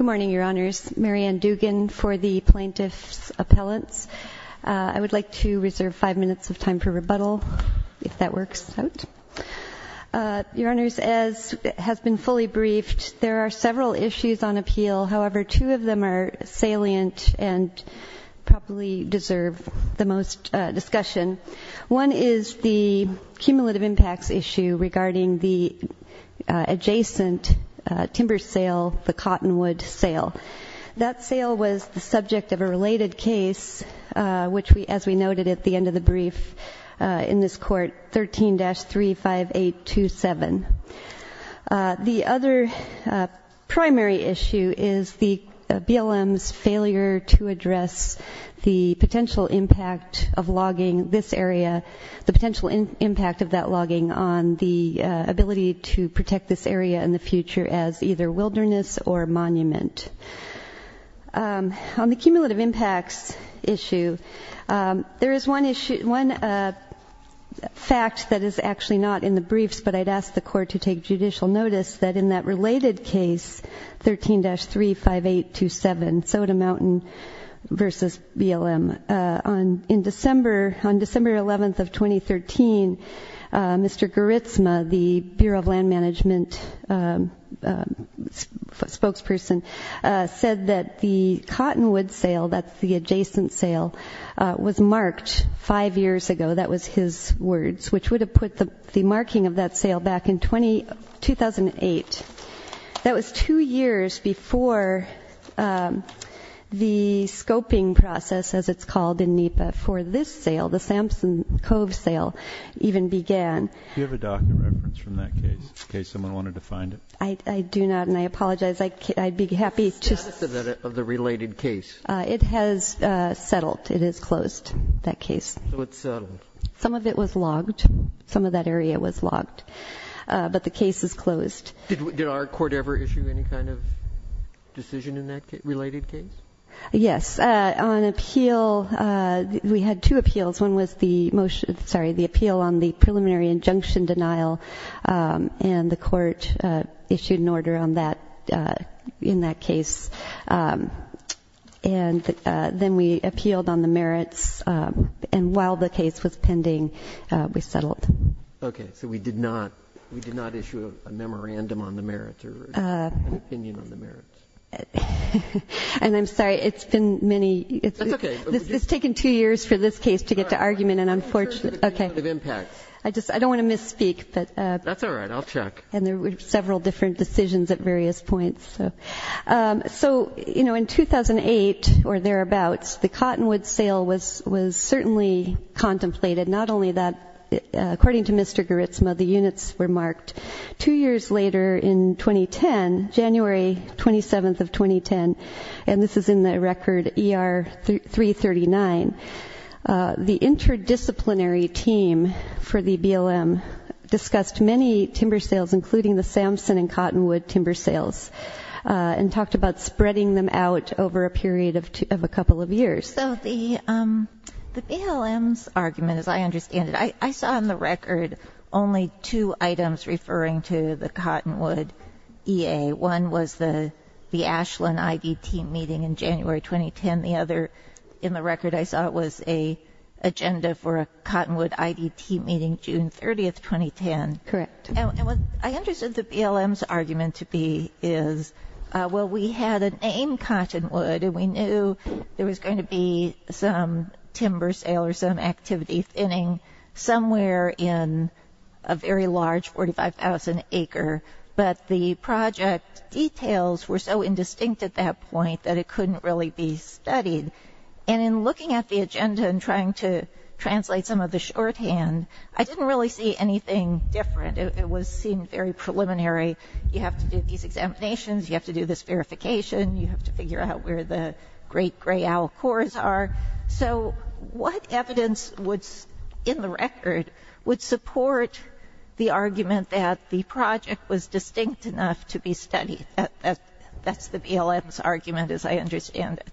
Mary Ann Dugan, Plaintiff's Appellant Mary Ann Dugan, Plaintiff's Appellant 13-35827, Soda Mtn v. BLM On December 11, 2013, Mr. Garitsma, the BLM spokesperson, said that the adjacent Cottonwood sale was marked five years ago. That was his words, which would have put the marking of that sale back in 2008. That was two years before the scoping process, as it's called in NEPA, for this sale, the Samson Cove sale, even began. Do you have a document reference from that case, in case someone wanted to find it? I do not, and I apologize. I'd be happy to- The status of the related case? It has settled. It has closed, that case. So it's settled. Some of it was logged. Some of that area was logged, but the case is closed. Did our court ever issue any kind of decision in that related case? Yes. On appeal, we had two appeals. One was the appeal on the preliminary injunction denial, and the court issued an order in that case. And then we appealed on the merits, and while the case was pending, we settled. Okay. So we did not issue a memorandum on the merits or an opinion on the merits? And I'm sorry, it's been many- That's okay. It's taken two years for this case to get to argument, and unfortunately- Okay. I just don't want to misspeak, but- That's all right. I'll check. And there were several different decisions at various points. So in 2008 or thereabouts, the Cottonwood sale was certainly contemplated. Not only that, according to Mr. Garitsma, the units were marked. Two years later in 2010, January 27th of 2010, and this is in the record ER 339, the interdisciplinary team for the BLM discussed many timber sales, including the Sampson and Cottonwood timber sales, and talked about spreading them out over a period of a couple of years. So the BLM's argument, as I understand it, I saw in the record only two items referring to the Cottonwood EA. One was the Ashland IDT meeting in January 2010. The other, in the record, I saw it was an agenda for a Cottonwood IDT meeting June 30th, 2010. Correct. And what I understood the BLM's argument to be is, well, we had a name, Cottonwood, and we knew there was going to be some timber sale or some activity thinning somewhere in a very large 45,000 acre. But the project details were so indistinct at that point that it couldn't really be studied. And in looking at the agenda and trying to translate some of the shorthand, I didn't really see anything different. It seemed very preliminary. You have to do these examinations. You have to do this verification. You have to figure out where the great gray owl cores are. So what evidence in the record would support the argument that the project was distinct enough to be studied? That's the BLM's argument, as I understand it.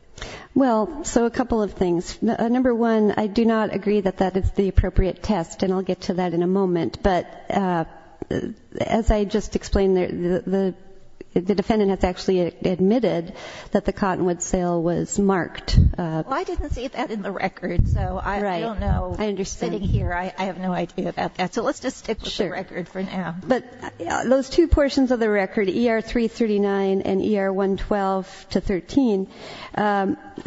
Well, so a couple of things. Number one, I do not agree that that is the appropriate test, and I'll get to that in a moment. But as I just explained, the defendant has actually admitted that the Cottonwood sale was marked. Well, I didn't see that in the record, so I don't know. I understand. Sitting here, I have no idea about that. So let's just stick with the record for now. But those two portions of the record, ER-339 and ER-112-13,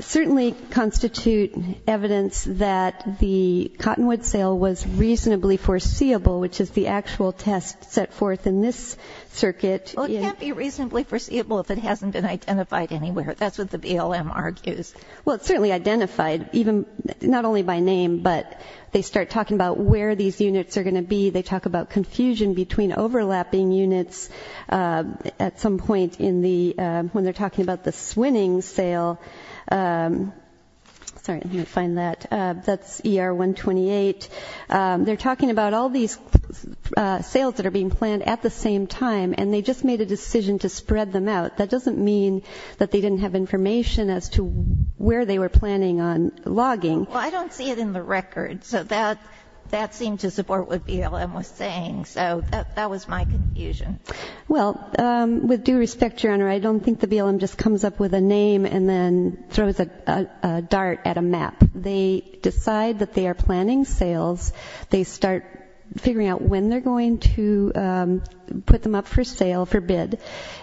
certainly constitute evidence that the Cottonwood sale was reasonably foreseeable, which is the actual test set forth in this circuit. Well, it can't be reasonably foreseeable if it hasn't been identified anywhere. That's what the BLM argues. Well, it's certainly identified, not only by name, but they start talking about where these units are going to be. They talk about confusion between overlapping units at some point when they're talking about the Swinning sale. Sorry, let me find that. That's ER-128. They're talking about all these sales that are being planned at the same time, and they just made a decision to spread them out. That doesn't mean that they didn't have information as to where they were planning on logging. Well, I don't see it in the record. So that seemed to support what BLM was saying. So that was my confusion. Well, with due respect, Your Honor, I don't think the BLM just comes up with a name and then throws a dart at a map. They decide that they are planning sales. They start figuring out when they're going to put them up for sale, for bid.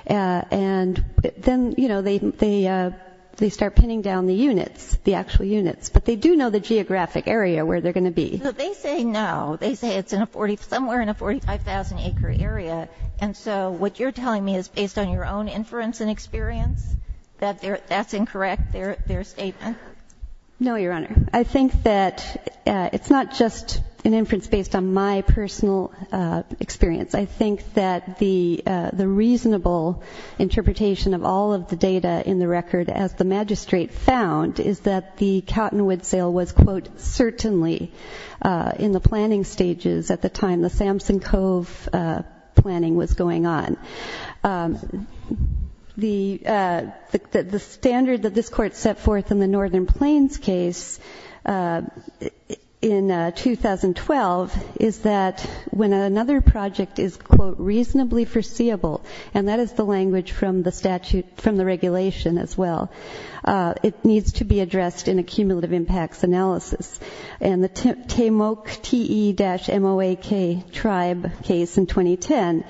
And then, you know, they start pinning down the units, the actual units. But they do know the geographic area where they're going to be. So they say no. They say it's somewhere in a 45,000-acre area. And so what you're telling me is based on your own inference and experience that that's incorrect, their statement? No, Your Honor. I think that it's not just an inference based on my personal experience. I think that the reasonable interpretation of all of the data in the record, as the magistrate found, is that the Cottonwood sale was, quote, certainly in the planning stages at the time the Samson Cove planning was going on. The standard that this court set forth in the Northern Plains case in 2012 is that when another project is, quote, reasonably foreseeable, and that is the language from the statute, from the regulation as well, it needs to be addressed in a cumulative impacts analysis. And the Temoak, T-E-M-O-A-K tribe case in 2010,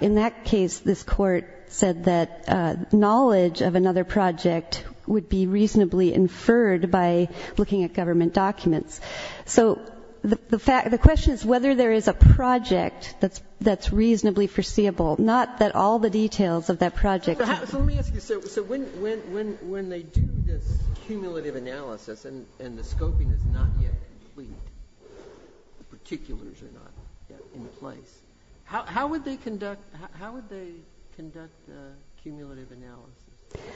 in that case this court said that knowledge of another project would be reasonably inferred by looking at government documents. So the question is whether there is a project that's reasonably foreseeable, not that all the details of that project. So let me ask you. So when they do this cumulative analysis and the scoping is not yet complete, the particulars are not yet in place, how would they conduct the cumulative analysis?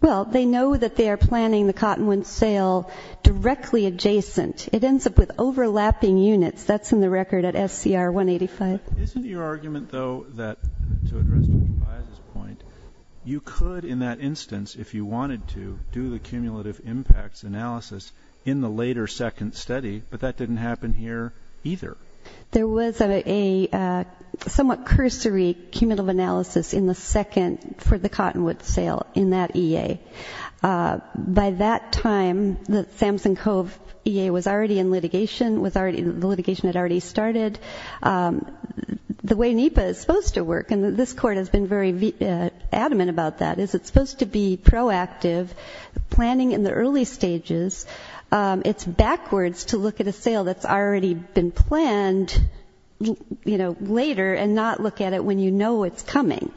Well, they know that they are planning the Cottonwood sale directly adjacent. It ends up with overlapping units. That's in the record at SCR 185. Isn't your argument, though, that, to address Dr. Baez's point, you could in that instance, if you wanted to, do the cumulative impacts analysis in the later second study, but that didn't happen here either. There was a somewhat cursory cumulative analysis in the second for the Cottonwood sale in that EA. By that time, the Samson Cove EA was already in litigation, the litigation had already started. The way NEPA is supposed to work, and this Court has been very adamant about that, is it's supposed to be proactive, planning in the early stages. It's backwards to look at a sale that's already been planned, you know, later and not look at it when you know it's coming.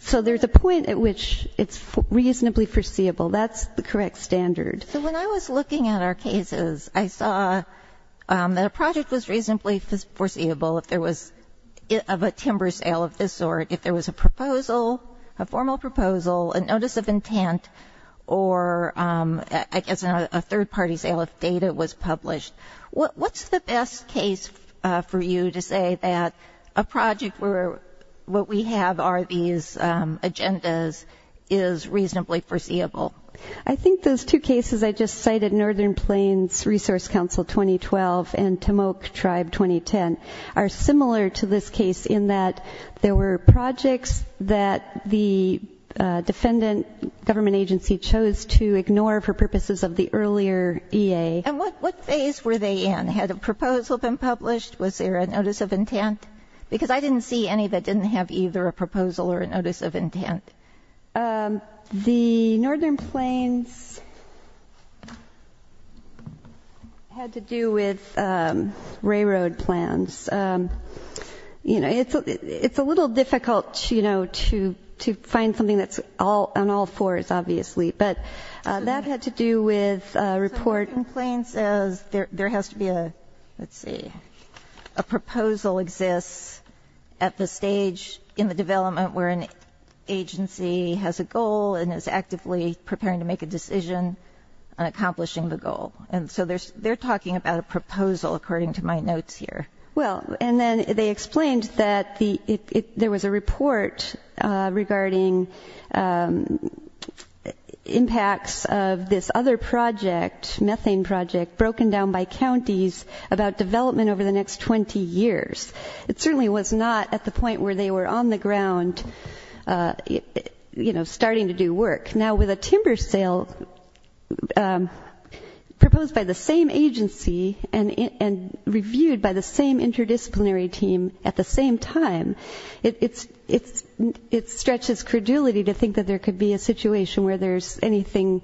So there's a point at which it's reasonably foreseeable. That's the correct standard. So when I was looking at our cases, I saw that a project was reasonably foreseeable if there was a timber sale of this sort, if there was a proposal, a formal proposal, a notice of intent, or I guess a third-party sale if data was published. What's the best case for you to say that a project where what we have are these agendas is reasonably foreseeable? I think those two cases I just cited, Northern Plains Resource Council 2012 and Timok Tribe 2010, are similar to this case in that there were projects that the defendant government agency chose to ignore for purposes of the earlier EA. And what phase were they in? Had a proposal been published? Was there a notice of intent? Because I didn't see any that didn't have either a proposal or a notice of intent. The Northern Plains had to do with railroad plans. It's a little difficult to find something that's on all fours, obviously. But that had to do with a report. So Northern Plains says there has to be a, let's see, a proposal exists at the stage in the development where an agency has a goal and is actively preparing to make a decision on accomplishing the goal. And so they're talking about a proposal, according to my notes here. Well, and then they explained that there was a report regarding impacts of this other project, methane project, broken down by counties about development over the next 20 years. It certainly was not at the point where they were on the ground starting to do work. Now, with a timber sale proposed by the same agency and reviewed by the same interdisciplinary team at the same time, it stretches credulity to think that there could be a situation where there's anything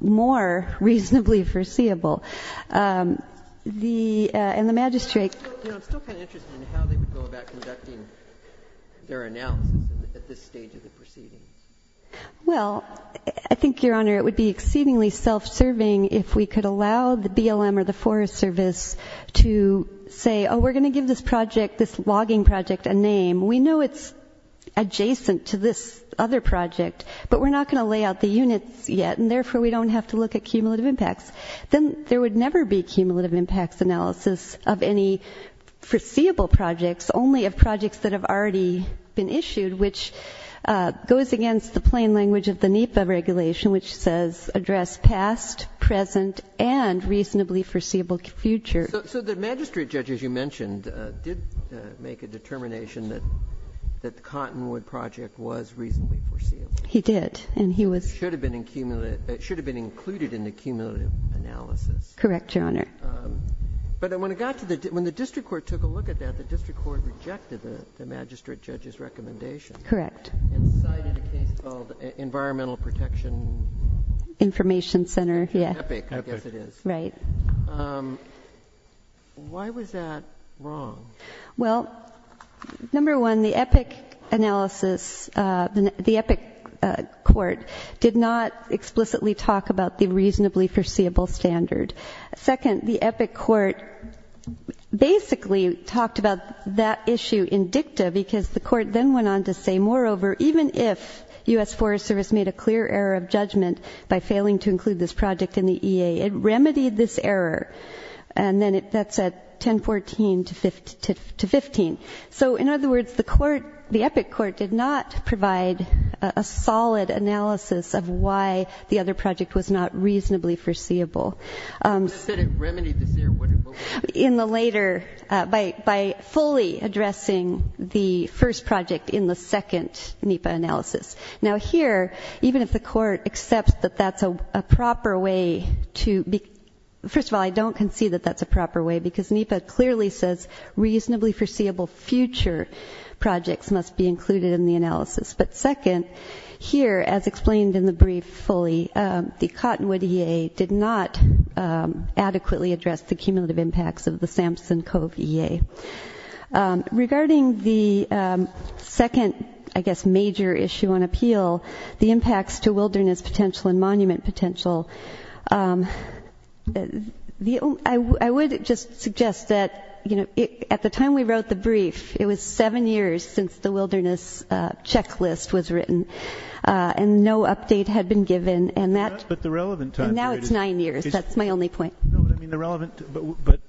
more reasonably foreseeable. And the magistrate- I'm still kind of interested in how they would go about conducting their announcements at this stage of the proceedings. Well, I think, Your Honor, it would be exceedingly self-serving if we could allow the BLM or the Forest Service to say, oh, we're going to give this project, this logging project, a name. We know it's adjacent to this other project, but we're not going to lay out the units yet, and therefore we don't have to look at cumulative impacts. Then there would never be cumulative impacts analysis of any foreseeable projects, only of projects that have already been issued, which goes against the plain language of the NEPA regulation, which says address past, present, and reasonably foreseeable future. So the magistrate judge, as you mentioned, did make a determination that the Cottonwood project was reasonably foreseeable. He did, and he was- It should have been included in the cumulative analysis. Correct, Your Honor. But when the district court took a look at that, the district court rejected the magistrate judge's recommendation- Correct. And cited a case called Environmental Protection- Information Center, yeah. I guess it is. Right. Why was that wrong? Well, number one, the EPIC analysis, the EPIC court, did not explicitly talk about the reasonably foreseeable standard. Second, the EPIC court basically talked about that issue in dicta, because the court then went on to say, moreover, even if U.S. Forest Service made a clear error of judgment by failing to include this project in the EA, it remedied this error, and then that's at 1014 to 15. So, in other words, the court, the EPIC court, did not provide a solid analysis of why the other project was not reasonably foreseeable. But it said it remedied this error. In the later, by fully addressing the first project in the second NEPA analysis. Now here, even if the court accepts that that's a proper way to, first of all, I don't concede that that's a proper way, because NEPA clearly says reasonably foreseeable future projects must be included in the analysis. But second, here, as explained in the brief fully, the Cottonwood EA did not adequately address the cumulative impacts of the Samson Cove EA. Regarding the second, I guess, major issue on appeal, the impacts to wilderness potential and monument potential, I would just suggest that at the time we wrote the brief, it was seven years since the wilderness checklist was written. And no update had been given, and that- But the relevant time period- And now it's nine years, that's my only point. No, but I mean the relevant,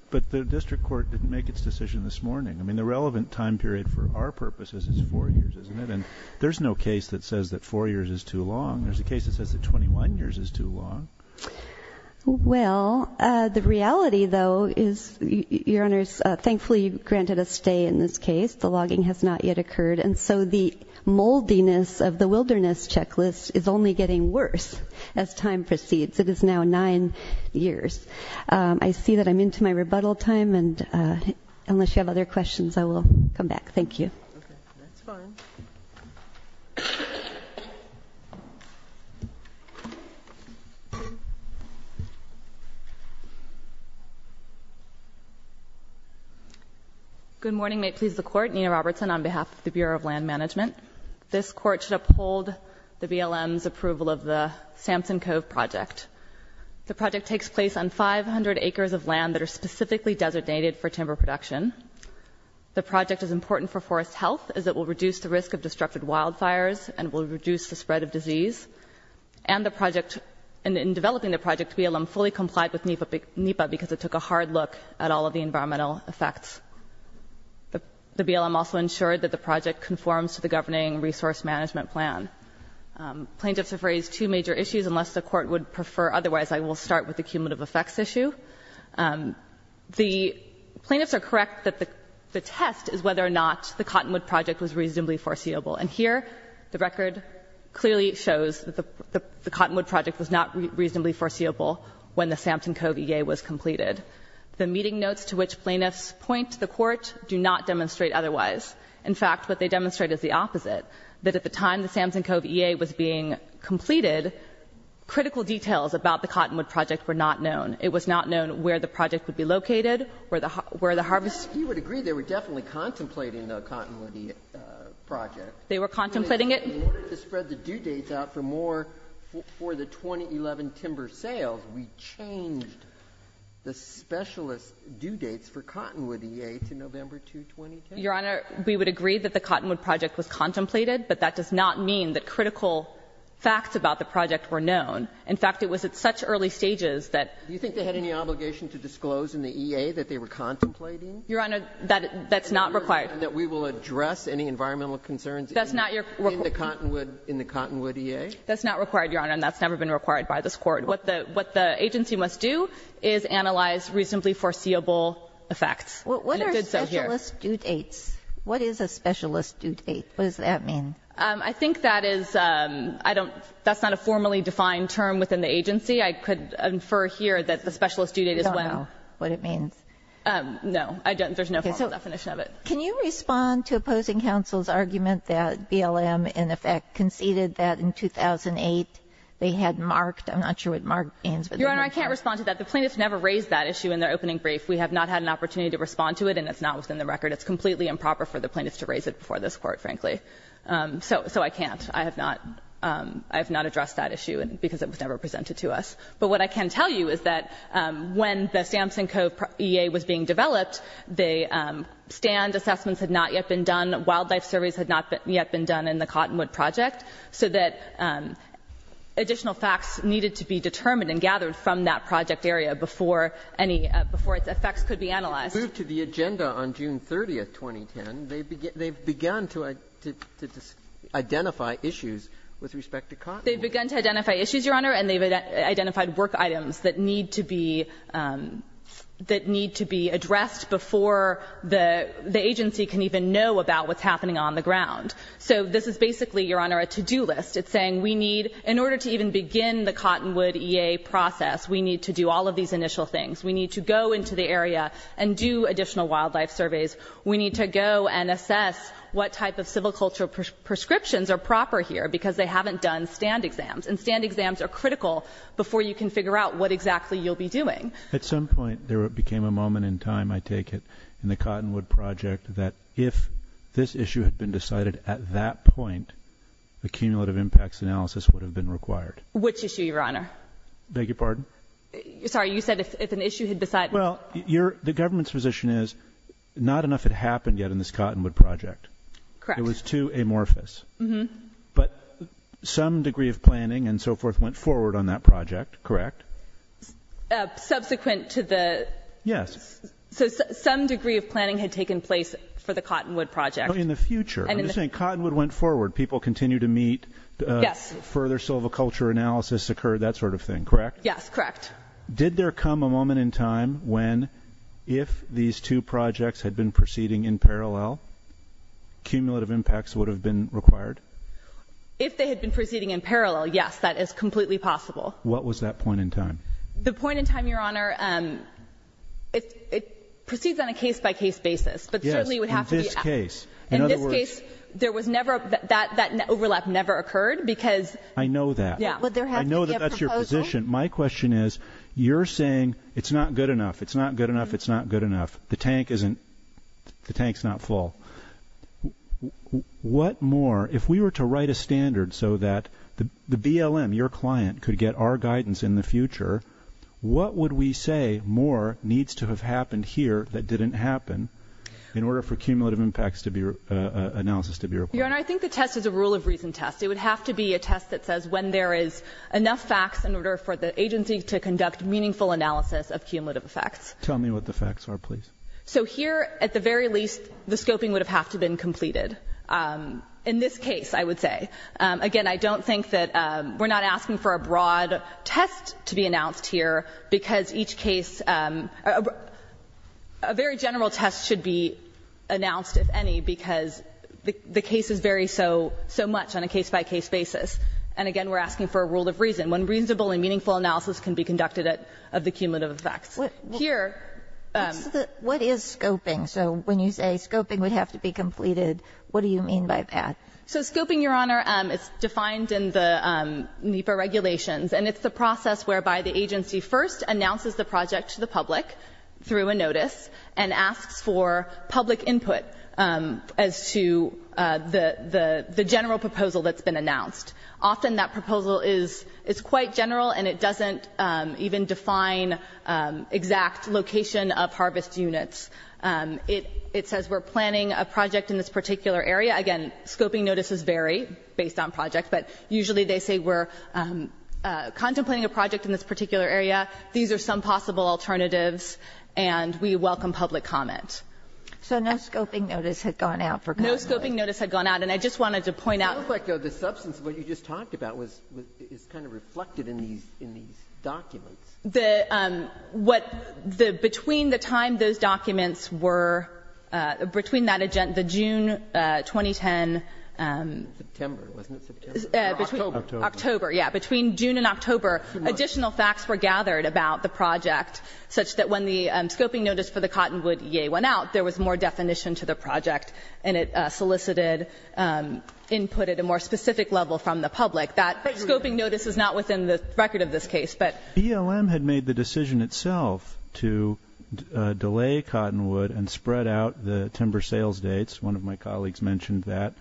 but the district court didn't make its decision this morning. I mean, the relevant time period for our purposes is four years, isn't it? And there's no case that says that four years is too long. There's a case that says that 21 years is too long. Well, the reality, though, is, Your Honors, thankfully granted a stay in this case. The logging has not yet occurred. And so the moldiness of the wilderness checklist is only getting worse as time proceeds. It is now nine years. I see that I'm into my rebuttal time, and unless you have other questions, I will come back. Thank you. Okay, that's fine. Thank you. Good morning. May it please the Court. Nina Robertson on behalf of the Bureau of Land Management. This Court should uphold the BLM's approval of the Samson Cove Project. The project takes place on 500 acres of land that are specifically designated for timber production. The project is important for forest health as it will reduce the risk of destructive wildfires and will reduce the spread of disease. And in developing the project, BLM fully complied with NEPA because it took a hard look at all of the environmental effects. The BLM also ensured that the project conforms to the Governing Resource Management Plan. Plaintiffs have raised two major issues. Unless the Court would prefer otherwise, I will start with the cumulative effects issue. The plaintiffs are correct that the test is whether or not the Cottonwood Project was reasonably foreseeable. And here, the record clearly shows that the Cottonwood Project was not reasonably foreseeable when the Samson Cove E.A. was completed. The meeting notes to which plaintiffs point to the Court do not demonstrate otherwise. In fact, what they demonstrate is the opposite, that at the time the Samson Cove E.A. was being completed, critical details about the Cottonwood Project were not known. It was not known where the project would be located, where the harvest. And I guess you would agree they were definitely contemplating the Cottonwood E.A. project. They were contemplating it. In order to spread the due dates out for more for the 2011 timber sales, we changed the specialist due dates for Cottonwood E.A. to November 2, 2010. Your Honor, we would agree that the Cottonwood Project was contemplated, but that does not mean that critical facts about the project were known. In fact, it was at such early stages that. Do you think they had any obligation to disclose in the E.A. that they were contemplating? Your Honor, that's not required. That we will address any environmental concerns in the Cottonwood E.A.? That's not required, Your Honor, and that's never been required by this Court. What the agency must do is analyze reasonably foreseeable effects. And it did so here. What are specialist due dates? What is a specialist due date? What does that mean? As you can see, I could infer here that the specialist due date is when. I don't know what it means. No. There's no formal definition of it. Can you respond to opposing counsel's argument that BLM, in effect, conceded that in 2008 they had marked? I'm not sure what marked means. Your Honor, I can't respond to that. The plaintiffs never raised that issue in their opening brief. We have not had an opportunity to respond to it, and it's not within the record. It's completely improper for the plaintiffs to raise it before this Court, frankly. So I can't. I have not addressed that issue because it was never presented to us. But what I can tell you is that when the Sampson Co. EA was being developed, the stand assessments had not yet been done, wildlife surveys had not yet been done in the Cottonwood project, so that additional facts needed to be determined and gathered from that project area before any of its effects could be analyzed. They moved to the agenda on June 30, 2010. They've begun to identify issues with respect to Cottonwood. They've begun to identify issues, Your Honor, and they've identified work items that need to be addressed before the agency can even know about what's happening on the ground. So this is basically, Your Honor, a to-do list. It's saying we need, in order to even begin the Cottonwood EA process, we need to do all of these initial things. We need to go into the area and do additional wildlife surveys. We need to go and assess what type of civil culture prescriptions are proper here because they haven't done stand exams. And stand exams are critical before you can figure out what exactly you'll be doing. At some point there became a moment in time, I take it, in the Cottonwood project that if this issue had been decided at that point, a cumulative impacts analysis would have been required. Which issue, Your Honor? Beg your pardon? Sorry, you said if an issue had been decided. Well, the government's position is not enough had happened yet in this Cottonwood project. Correct. It was too amorphous. Mm-hmm. But some degree of planning and so forth went forward on that project, correct? Subsequent to the... Yes. So some degree of planning had taken place for the Cottonwood project. No, in the future. I'm just saying Cottonwood went forward. People continue to meet. Yes. Further civil culture analysis occurred, that sort of thing, correct? Yes, correct. Did there come a moment in time when if these two projects had been proceeding in parallel, cumulative impacts would have been required? If they had been proceeding in parallel, yes, that is completely possible. What was that point in time? The point in time, Your Honor, it proceeds on a case-by-case basis, but certainly would have to be... Yes, in this case. In this case, that overlap never occurred because... I know that. Would there have to be a proposal? My question is, you're saying it's not good enough, it's not good enough, it's not good enough, the tank's not full. What more, if we were to write a standard so that the BLM, your client, could get our guidance in the future, what would we say more needs to have happened here that didn't happen in order for cumulative impacts analysis to be required? Your Honor, I think the test is a rule of reason test. It would have to be a test that says when there is enough facts in order for the agency to conduct meaningful analysis of cumulative effects. Tell me what the facts are, please. So here, at the very least, the scoping would have to have been completed. In this case, I would say. Again, I don't think that we're not asking for a broad test to be announced here because each case, a very general test should be announced, if any, because the cases vary so much on a case-by-case basis. And again, we're asking for a rule of reason, when reasonable and meaningful analysis can be conducted of the cumulative effects. Here. What is scoping? So when you say scoping would have to be completed, what do you mean by that? So scoping, Your Honor, is defined in the NEPA regulations, and it's the process whereby the agency first announces the project to the public through a notice and asks for public input as to the general proposal that's been announced. Often that proposal is quite general, and it doesn't even define exact location of harvest units. It says we're planning a project in this particular area. Again, scoping notices vary based on project, but usually they say we're contemplating a project in this particular area. These are some possible alternatives, and we welcome public comment. So no scoping notice had gone out for government? No scoping notice had gone out. And I just wanted to point out the substance of what you just talked about is kind of reflected in these documents. Between the time those documents were, between that, the June 2010. September, wasn't it September? October. October, yes. Additional facts were gathered about the project, such that when the scoping notice for the cottonwood, yay, went out, there was more definition to the project, and it solicited input at a more specific level from the public. That scoping notice is not within the record of this case, but. BLM had made the decision itself to delay cottonwood and spread out the timber sales dates. One of my colleagues mentioned that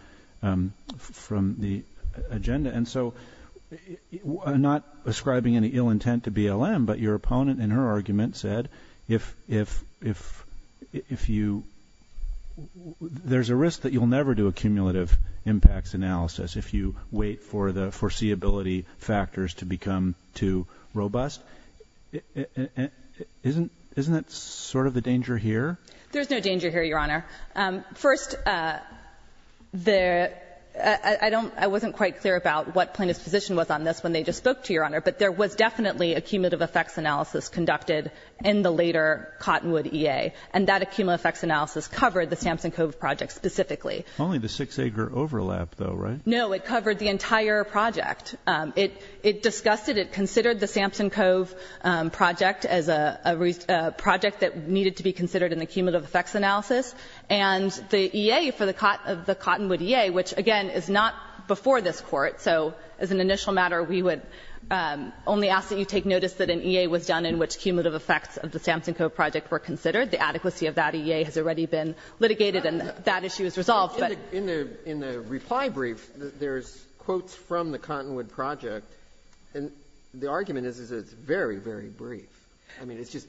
from the agenda. And so not ascribing any ill intent to BLM, but your opponent in her argument said if you, there's a risk that you'll never do a cumulative impacts analysis if you wait for the foreseeability factors to become too robust. Isn't that sort of the danger here? There's no danger here, Your Honor. First, there, I don't, I wasn't quite clear about what plaintiff's position was on this when they just spoke to you, Your Honor. But there was definitely a cumulative effects analysis conducted in the later cottonwood EA. And that accumulative effects analysis covered the Samson Cove project specifically. Only the six acre overlap though, right? No, it covered the entire project. It discussed it, it considered the Samson Cove project as a project that needed to be considered in the cumulative effects analysis. And the EA for the cottonwood EA, which again is not before this Court, so as an initial matter we would only ask that you take notice that an EA was done in which cumulative effects of the Samson Cove project were considered. The adequacy of that EA has already been litigated and that issue is resolved. But in the reply brief, there's quotes from the cottonwood project. And the argument is that it's very, very brief. I mean, it's just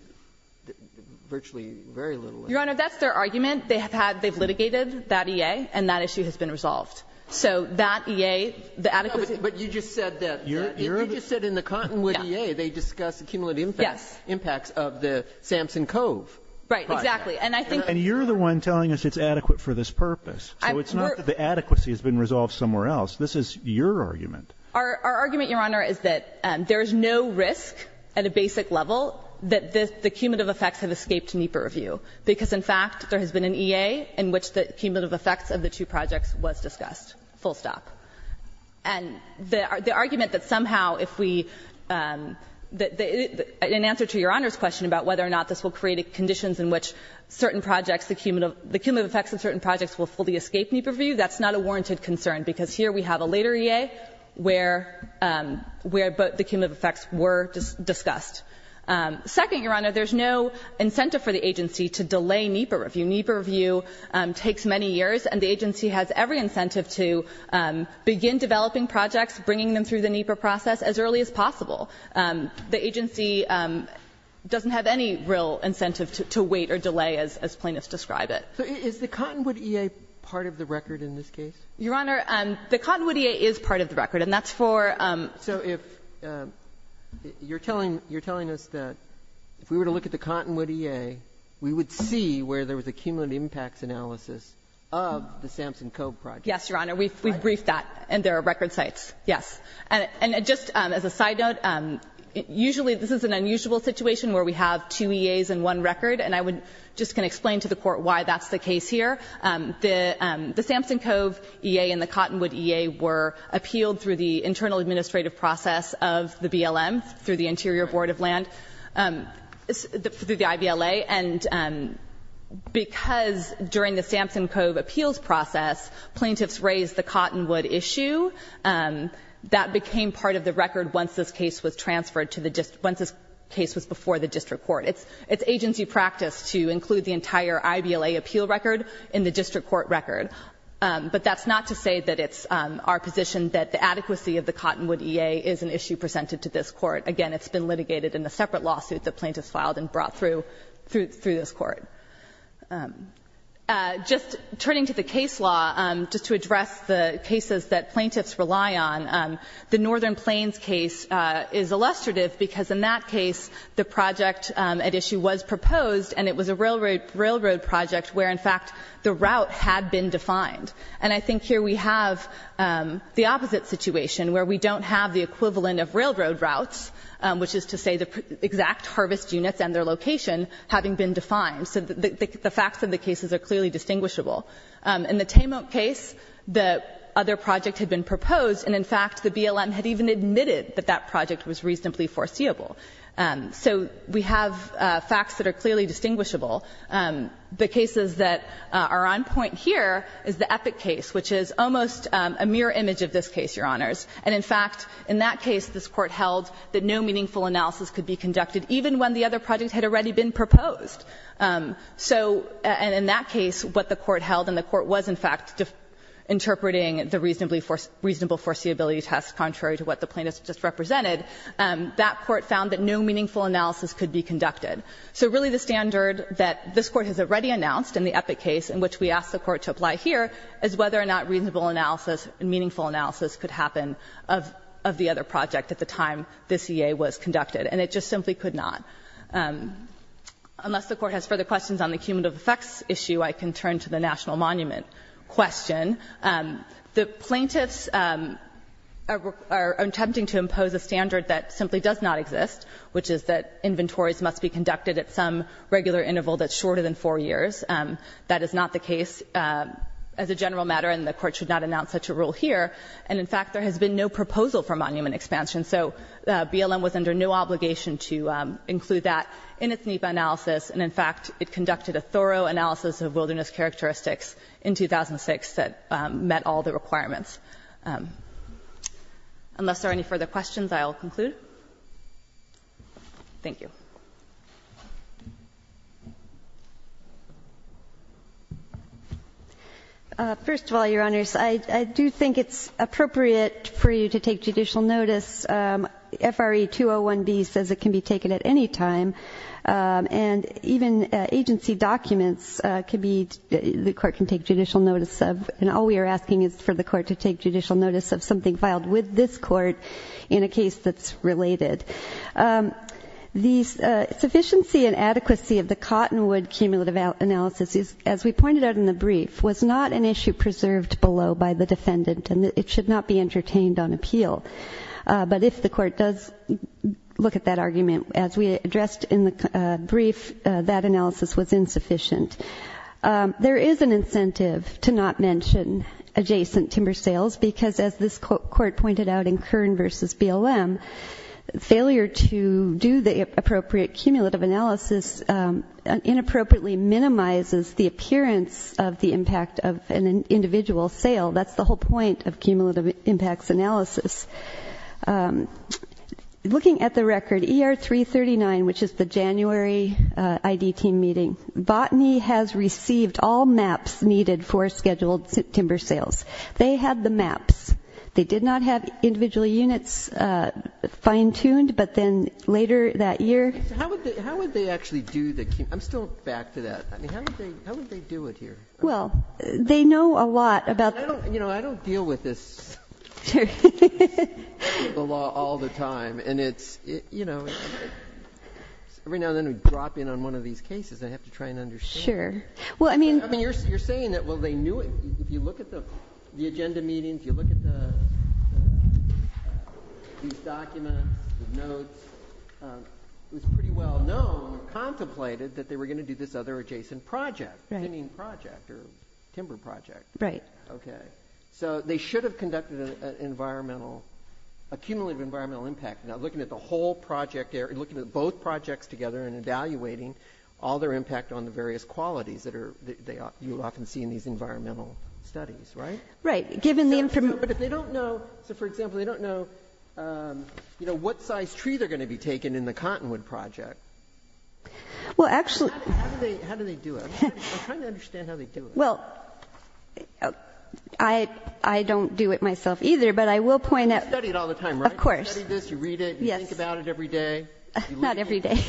virtually very little. Your Honor, that's their argument. They have had, they've litigated that EA and that issue has been resolved. So that EA, the adequacy. But you just said that, you just said in the cottonwood EA they discussed the cumulative impacts of the Samson Cove project. Right, exactly. And I think. And you're the one telling us it's adequate for this purpose. So it's not that the adequacy has been resolved somewhere else. This is your argument. Our argument, Your Honor, is that there is no risk at a basic level that the cumulative effects have escaped NEPA review. Because, in fact, there has been an EA in which the cumulative effects of the two projects was discussed, full stop. And the argument that somehow if we, in answer to Your Honor's question about whether or not this will create conditions in which certain projects, the cumulative effects of certain projects will fully escape NEPA review, that's not a warranted concern, because here we have a later EA where the cumulative effects were discussed. Second, Your Honor, there's no incentive for the agency to delay NEPA review. NEPA review takes many years, and the agency has every incentive to begin developing projects, bringing them through the NEPA process as early as possible. The agency doesn't have any real incentive to wait or delay, as plaintiffs describe it. So is the cottonwood EA part of the record in this case? Your Honor, the cottonwood EA is part of the record, and that's for the NEPA review. So if you're telling us that if we were to look at the cottonwood EA, we would see where there was a cumulative impacts analysis of the Sampson Cove project? Yes, Your Honor. We've briefed that, and there are record sites. Yes. And just as a side note, usually this is an unusual situation where we have two EAs and one record, and I just can explain to the Court why that's the case here. The Sampson Cove EA and the cottonwood EA were appealed through the internal administrative process of the BLM, through the Interior Board of Land, through the IBLA. And because during the Sampson Cove appeals process, plaintiffs raised the cottonwood issue, that became part of the record once this case was transferred to the district – once this case was before the district court. It's agency practice to include the entire IBLA appeal record in the district court record. But that's not to say that it's our position that the adequacy of the cottonwood EA is an issue presented to this Court. Again, it's been litigated in a separate lawsuit that plaintiffs filed and brought through this Court. Just turning to the case law, just to address the cases that plaintiffs rely on, the BLM at issue was proposed, and it was a railroad project where, in fact, the route had been defined. And I think here we have the opposite situation, where we don't have the equivalent of railroad routes, which is to say the exact harvest units and their location having been defined. So the facts of the cases are clearly distinguishable. In the Tame Oak case, the other project had been proposed, and in fact, the BLM had even admitted that that project was reasonably foreseeable. So we have facts that are clearly distinguishable. The cases that are on point here is the Epic case, which is almost a mirror image of this case, Your Honors. And in fact, in that case, this Court held that no meaningful analysis could be conducted, even when the other project had already been proposed. So in that case, what the Court held, and the Court was, in fact, interpreting the reasonably foreseeability test contrary to what the plaintiffs just represented, that Court found that no meaningful analysis could be conducted. So really the standard that this Court has already announced in the Epic case, in which we asked the Court to apply here, is whether or not reasonable analysis and meaningful analysis could happen of the other project at the time this E.A. was conducted. And it just simply could not. Unless the Court has further questions on the cumulative effects issue, I can turn to the National Monument question. The plaintiffs are attempting to impose a standard that simply does not exist, which is that inventories must be conducted at some regular interval that's shorter than four years. That is not the case as a general matter, and the Court should not announce such a rule here. And in fact, there has been no proposal for monument expansion. So BLM was under no obligation to include that in its NEPA analysis, and in fact, it conducted a thorough analysis of wilderness characteristics in 2006 that met all the requirements. Unless there are any further questions, I will conclude. Thank you. First of all, Your Honors, I do think it's appropriate for you to take judicial notice. FRA 201B says it can be taken at any time, and even agency documents can be, the Court can take judicial notice of. And all we are asking is for the Court to take judicial notice of something filed with this Court in a case that's related. The sufficiency and adequacy of the Cottonwood cumulative analysis, as we pointed out in the brief, was not an issue preserved below by the defendant, and it should not be entertained on appeal. But if the Court does look at that argument, as we addressed in the brief, that analysis was insufficient. There is an incentive to not mention adjacent timber sales, because as this Court pointed out in Kern v. BLM, failure to do the appropriate cumulative analysis inappropriately minimizes the appearance of the impact of an individual sale. That's the whole point of cumulative impacts analysis. Looking at the record, ER 339, which is the January ID team meeting, Botany has received all maps needed for scheduled timber sales. They had the maps. They did not have individual units fine-tuned, but then later that year How would they actually do the, I'm still back to that, how would they do it here? Well, they know a lot about the You know, I don't deal with this Sure. The law all the time, and it's, you know, every now and then we drop in on one of these cases. I have to try and understand it. Sure. Well, I mean I mean, you're saying that, well, they knew it. If you look at the agenda meeting, if you look at the, these documents, the notes, it was pretty well known, contemplated, that they were going to do this other adjacent project. Right. Timber project. Right. Okay. So they should have conducted an environmental, a cumulative environmental impact. Now looking at the whole project, looking at both projects together and evaluating all their impact on the various qualities that are, that you often see in these environmental studies. Right? Right. Given the But if they don't know, so for example, they don't know, you know, what size tree they're going to be taking in the Cottonwood project. Well, actually How do they, how do they do it? I'm trying to understand how they do it. Well, I, I don't do it myself either, but I will point out You study it all the time, right? Of course. You study this, you read it. Yes. You think about it every day. Not every day.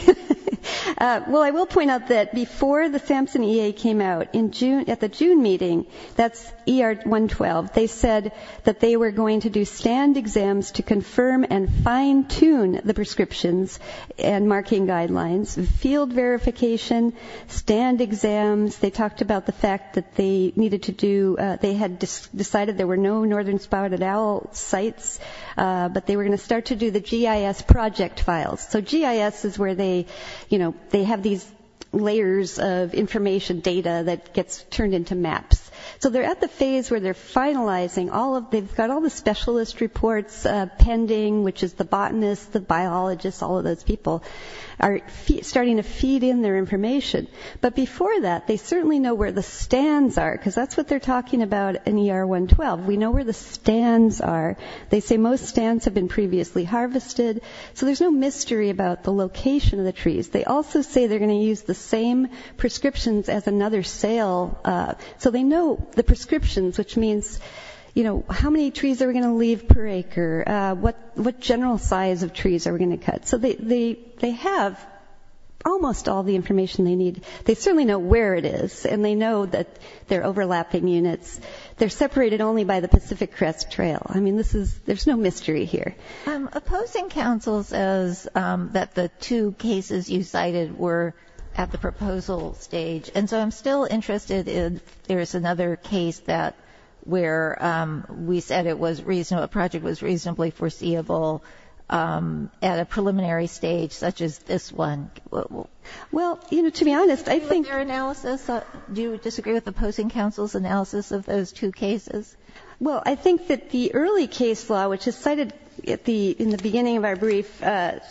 Well, I will point out that before the Sampson EA came out in June, at the June meeting, that's ER 112, they said that they were going to do stand exams to confirm and fine tune the prescriptions and marking guidelines, field verification, stand exams. They talked about the fact that they needed to do, they had decided there were no northern spotted owl sites, but they were going to start to do the GIS project files. So GIS is where they, you know, they have these layers of information data that gets turned into maps. So they're at the phase where they're finalizing all of, they've got all the specialist reports pending, which is the botanist, the biologist, all those people are starting to feed in their information. But before that, they certainly know where the stands are, because that's what they're talking about in ER 112. We know where the stands are. They say most stands have been previously harvested. So there's no mystery about the location of the trees. They also say they're going to use the same prescriptions as another sale. So they know the prescriptions, which means, you know, how many trees are we going to leave per acre? What general size of trees are we going to cut? So they have almost all the information they need. They certainly know where it is, and they know that they're overlapping units. They're separated only by the Pacific Crest Trail. I mean, this is, there's no mystery here. Opposing counsel says that the two cases you cited were at the proposal stage. And so I'm still interested in, there is another case that where we said it was reasonable, a project was reasonably foreseeable at a preliminary stage, such as this one. Well, you know, to be honest, I think- Do you disagree with their analysis? Do you disagree with opposing counsel's analysis of those two cases? Well, I think that the early case law, which is cited in the beginning of our brief,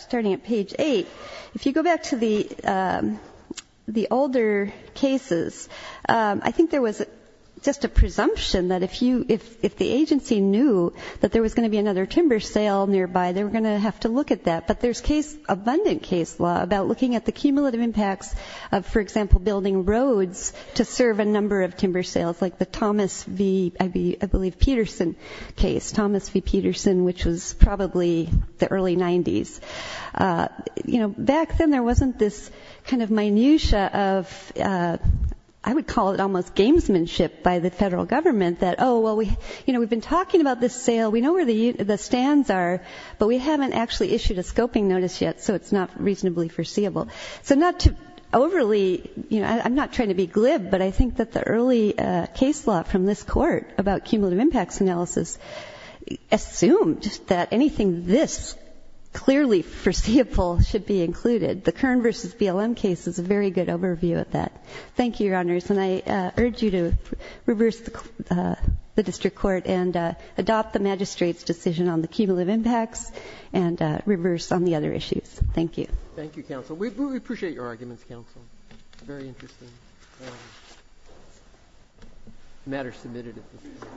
starting at page eight, if you go back to the older cases, I think there was just a presumption that if you, if the agency knew that there was going to be another timber sale nearby, they were going to have to look at that. But there's case, abundant case law about looking at the cumulative impacts of, for example, building roads to serve a number of timber sales, like the Thomas V., I believe, Peterson case, Thomas V. Peterson, which was probably the early 90s. You know, back then there wasn't this kind of minutia of, I would call it almost gamesmanship by the federal government that, oh, well, we, you know, we've been talking about this sale, we know where the stands are, but we haven't actually issued a scoping notice yet, so it's not reasonably foreseeable. So not to overly, you know, I'm not trying to be glib, but I think that the early case law from this court about cumulative impacts analysis assumed that anything this clearly foreseeable should be included. The Kern v. BLM case is a very good overview of that. Thank you, Your Honors. And I urge you to reverse the district court and adopt the magistrate's decision on the cumulative impacts and reverse on the other issues. Thank you. Thank you, Counsel. We appreciate your arguments, Counsel. Very interesting matter submitted at this point.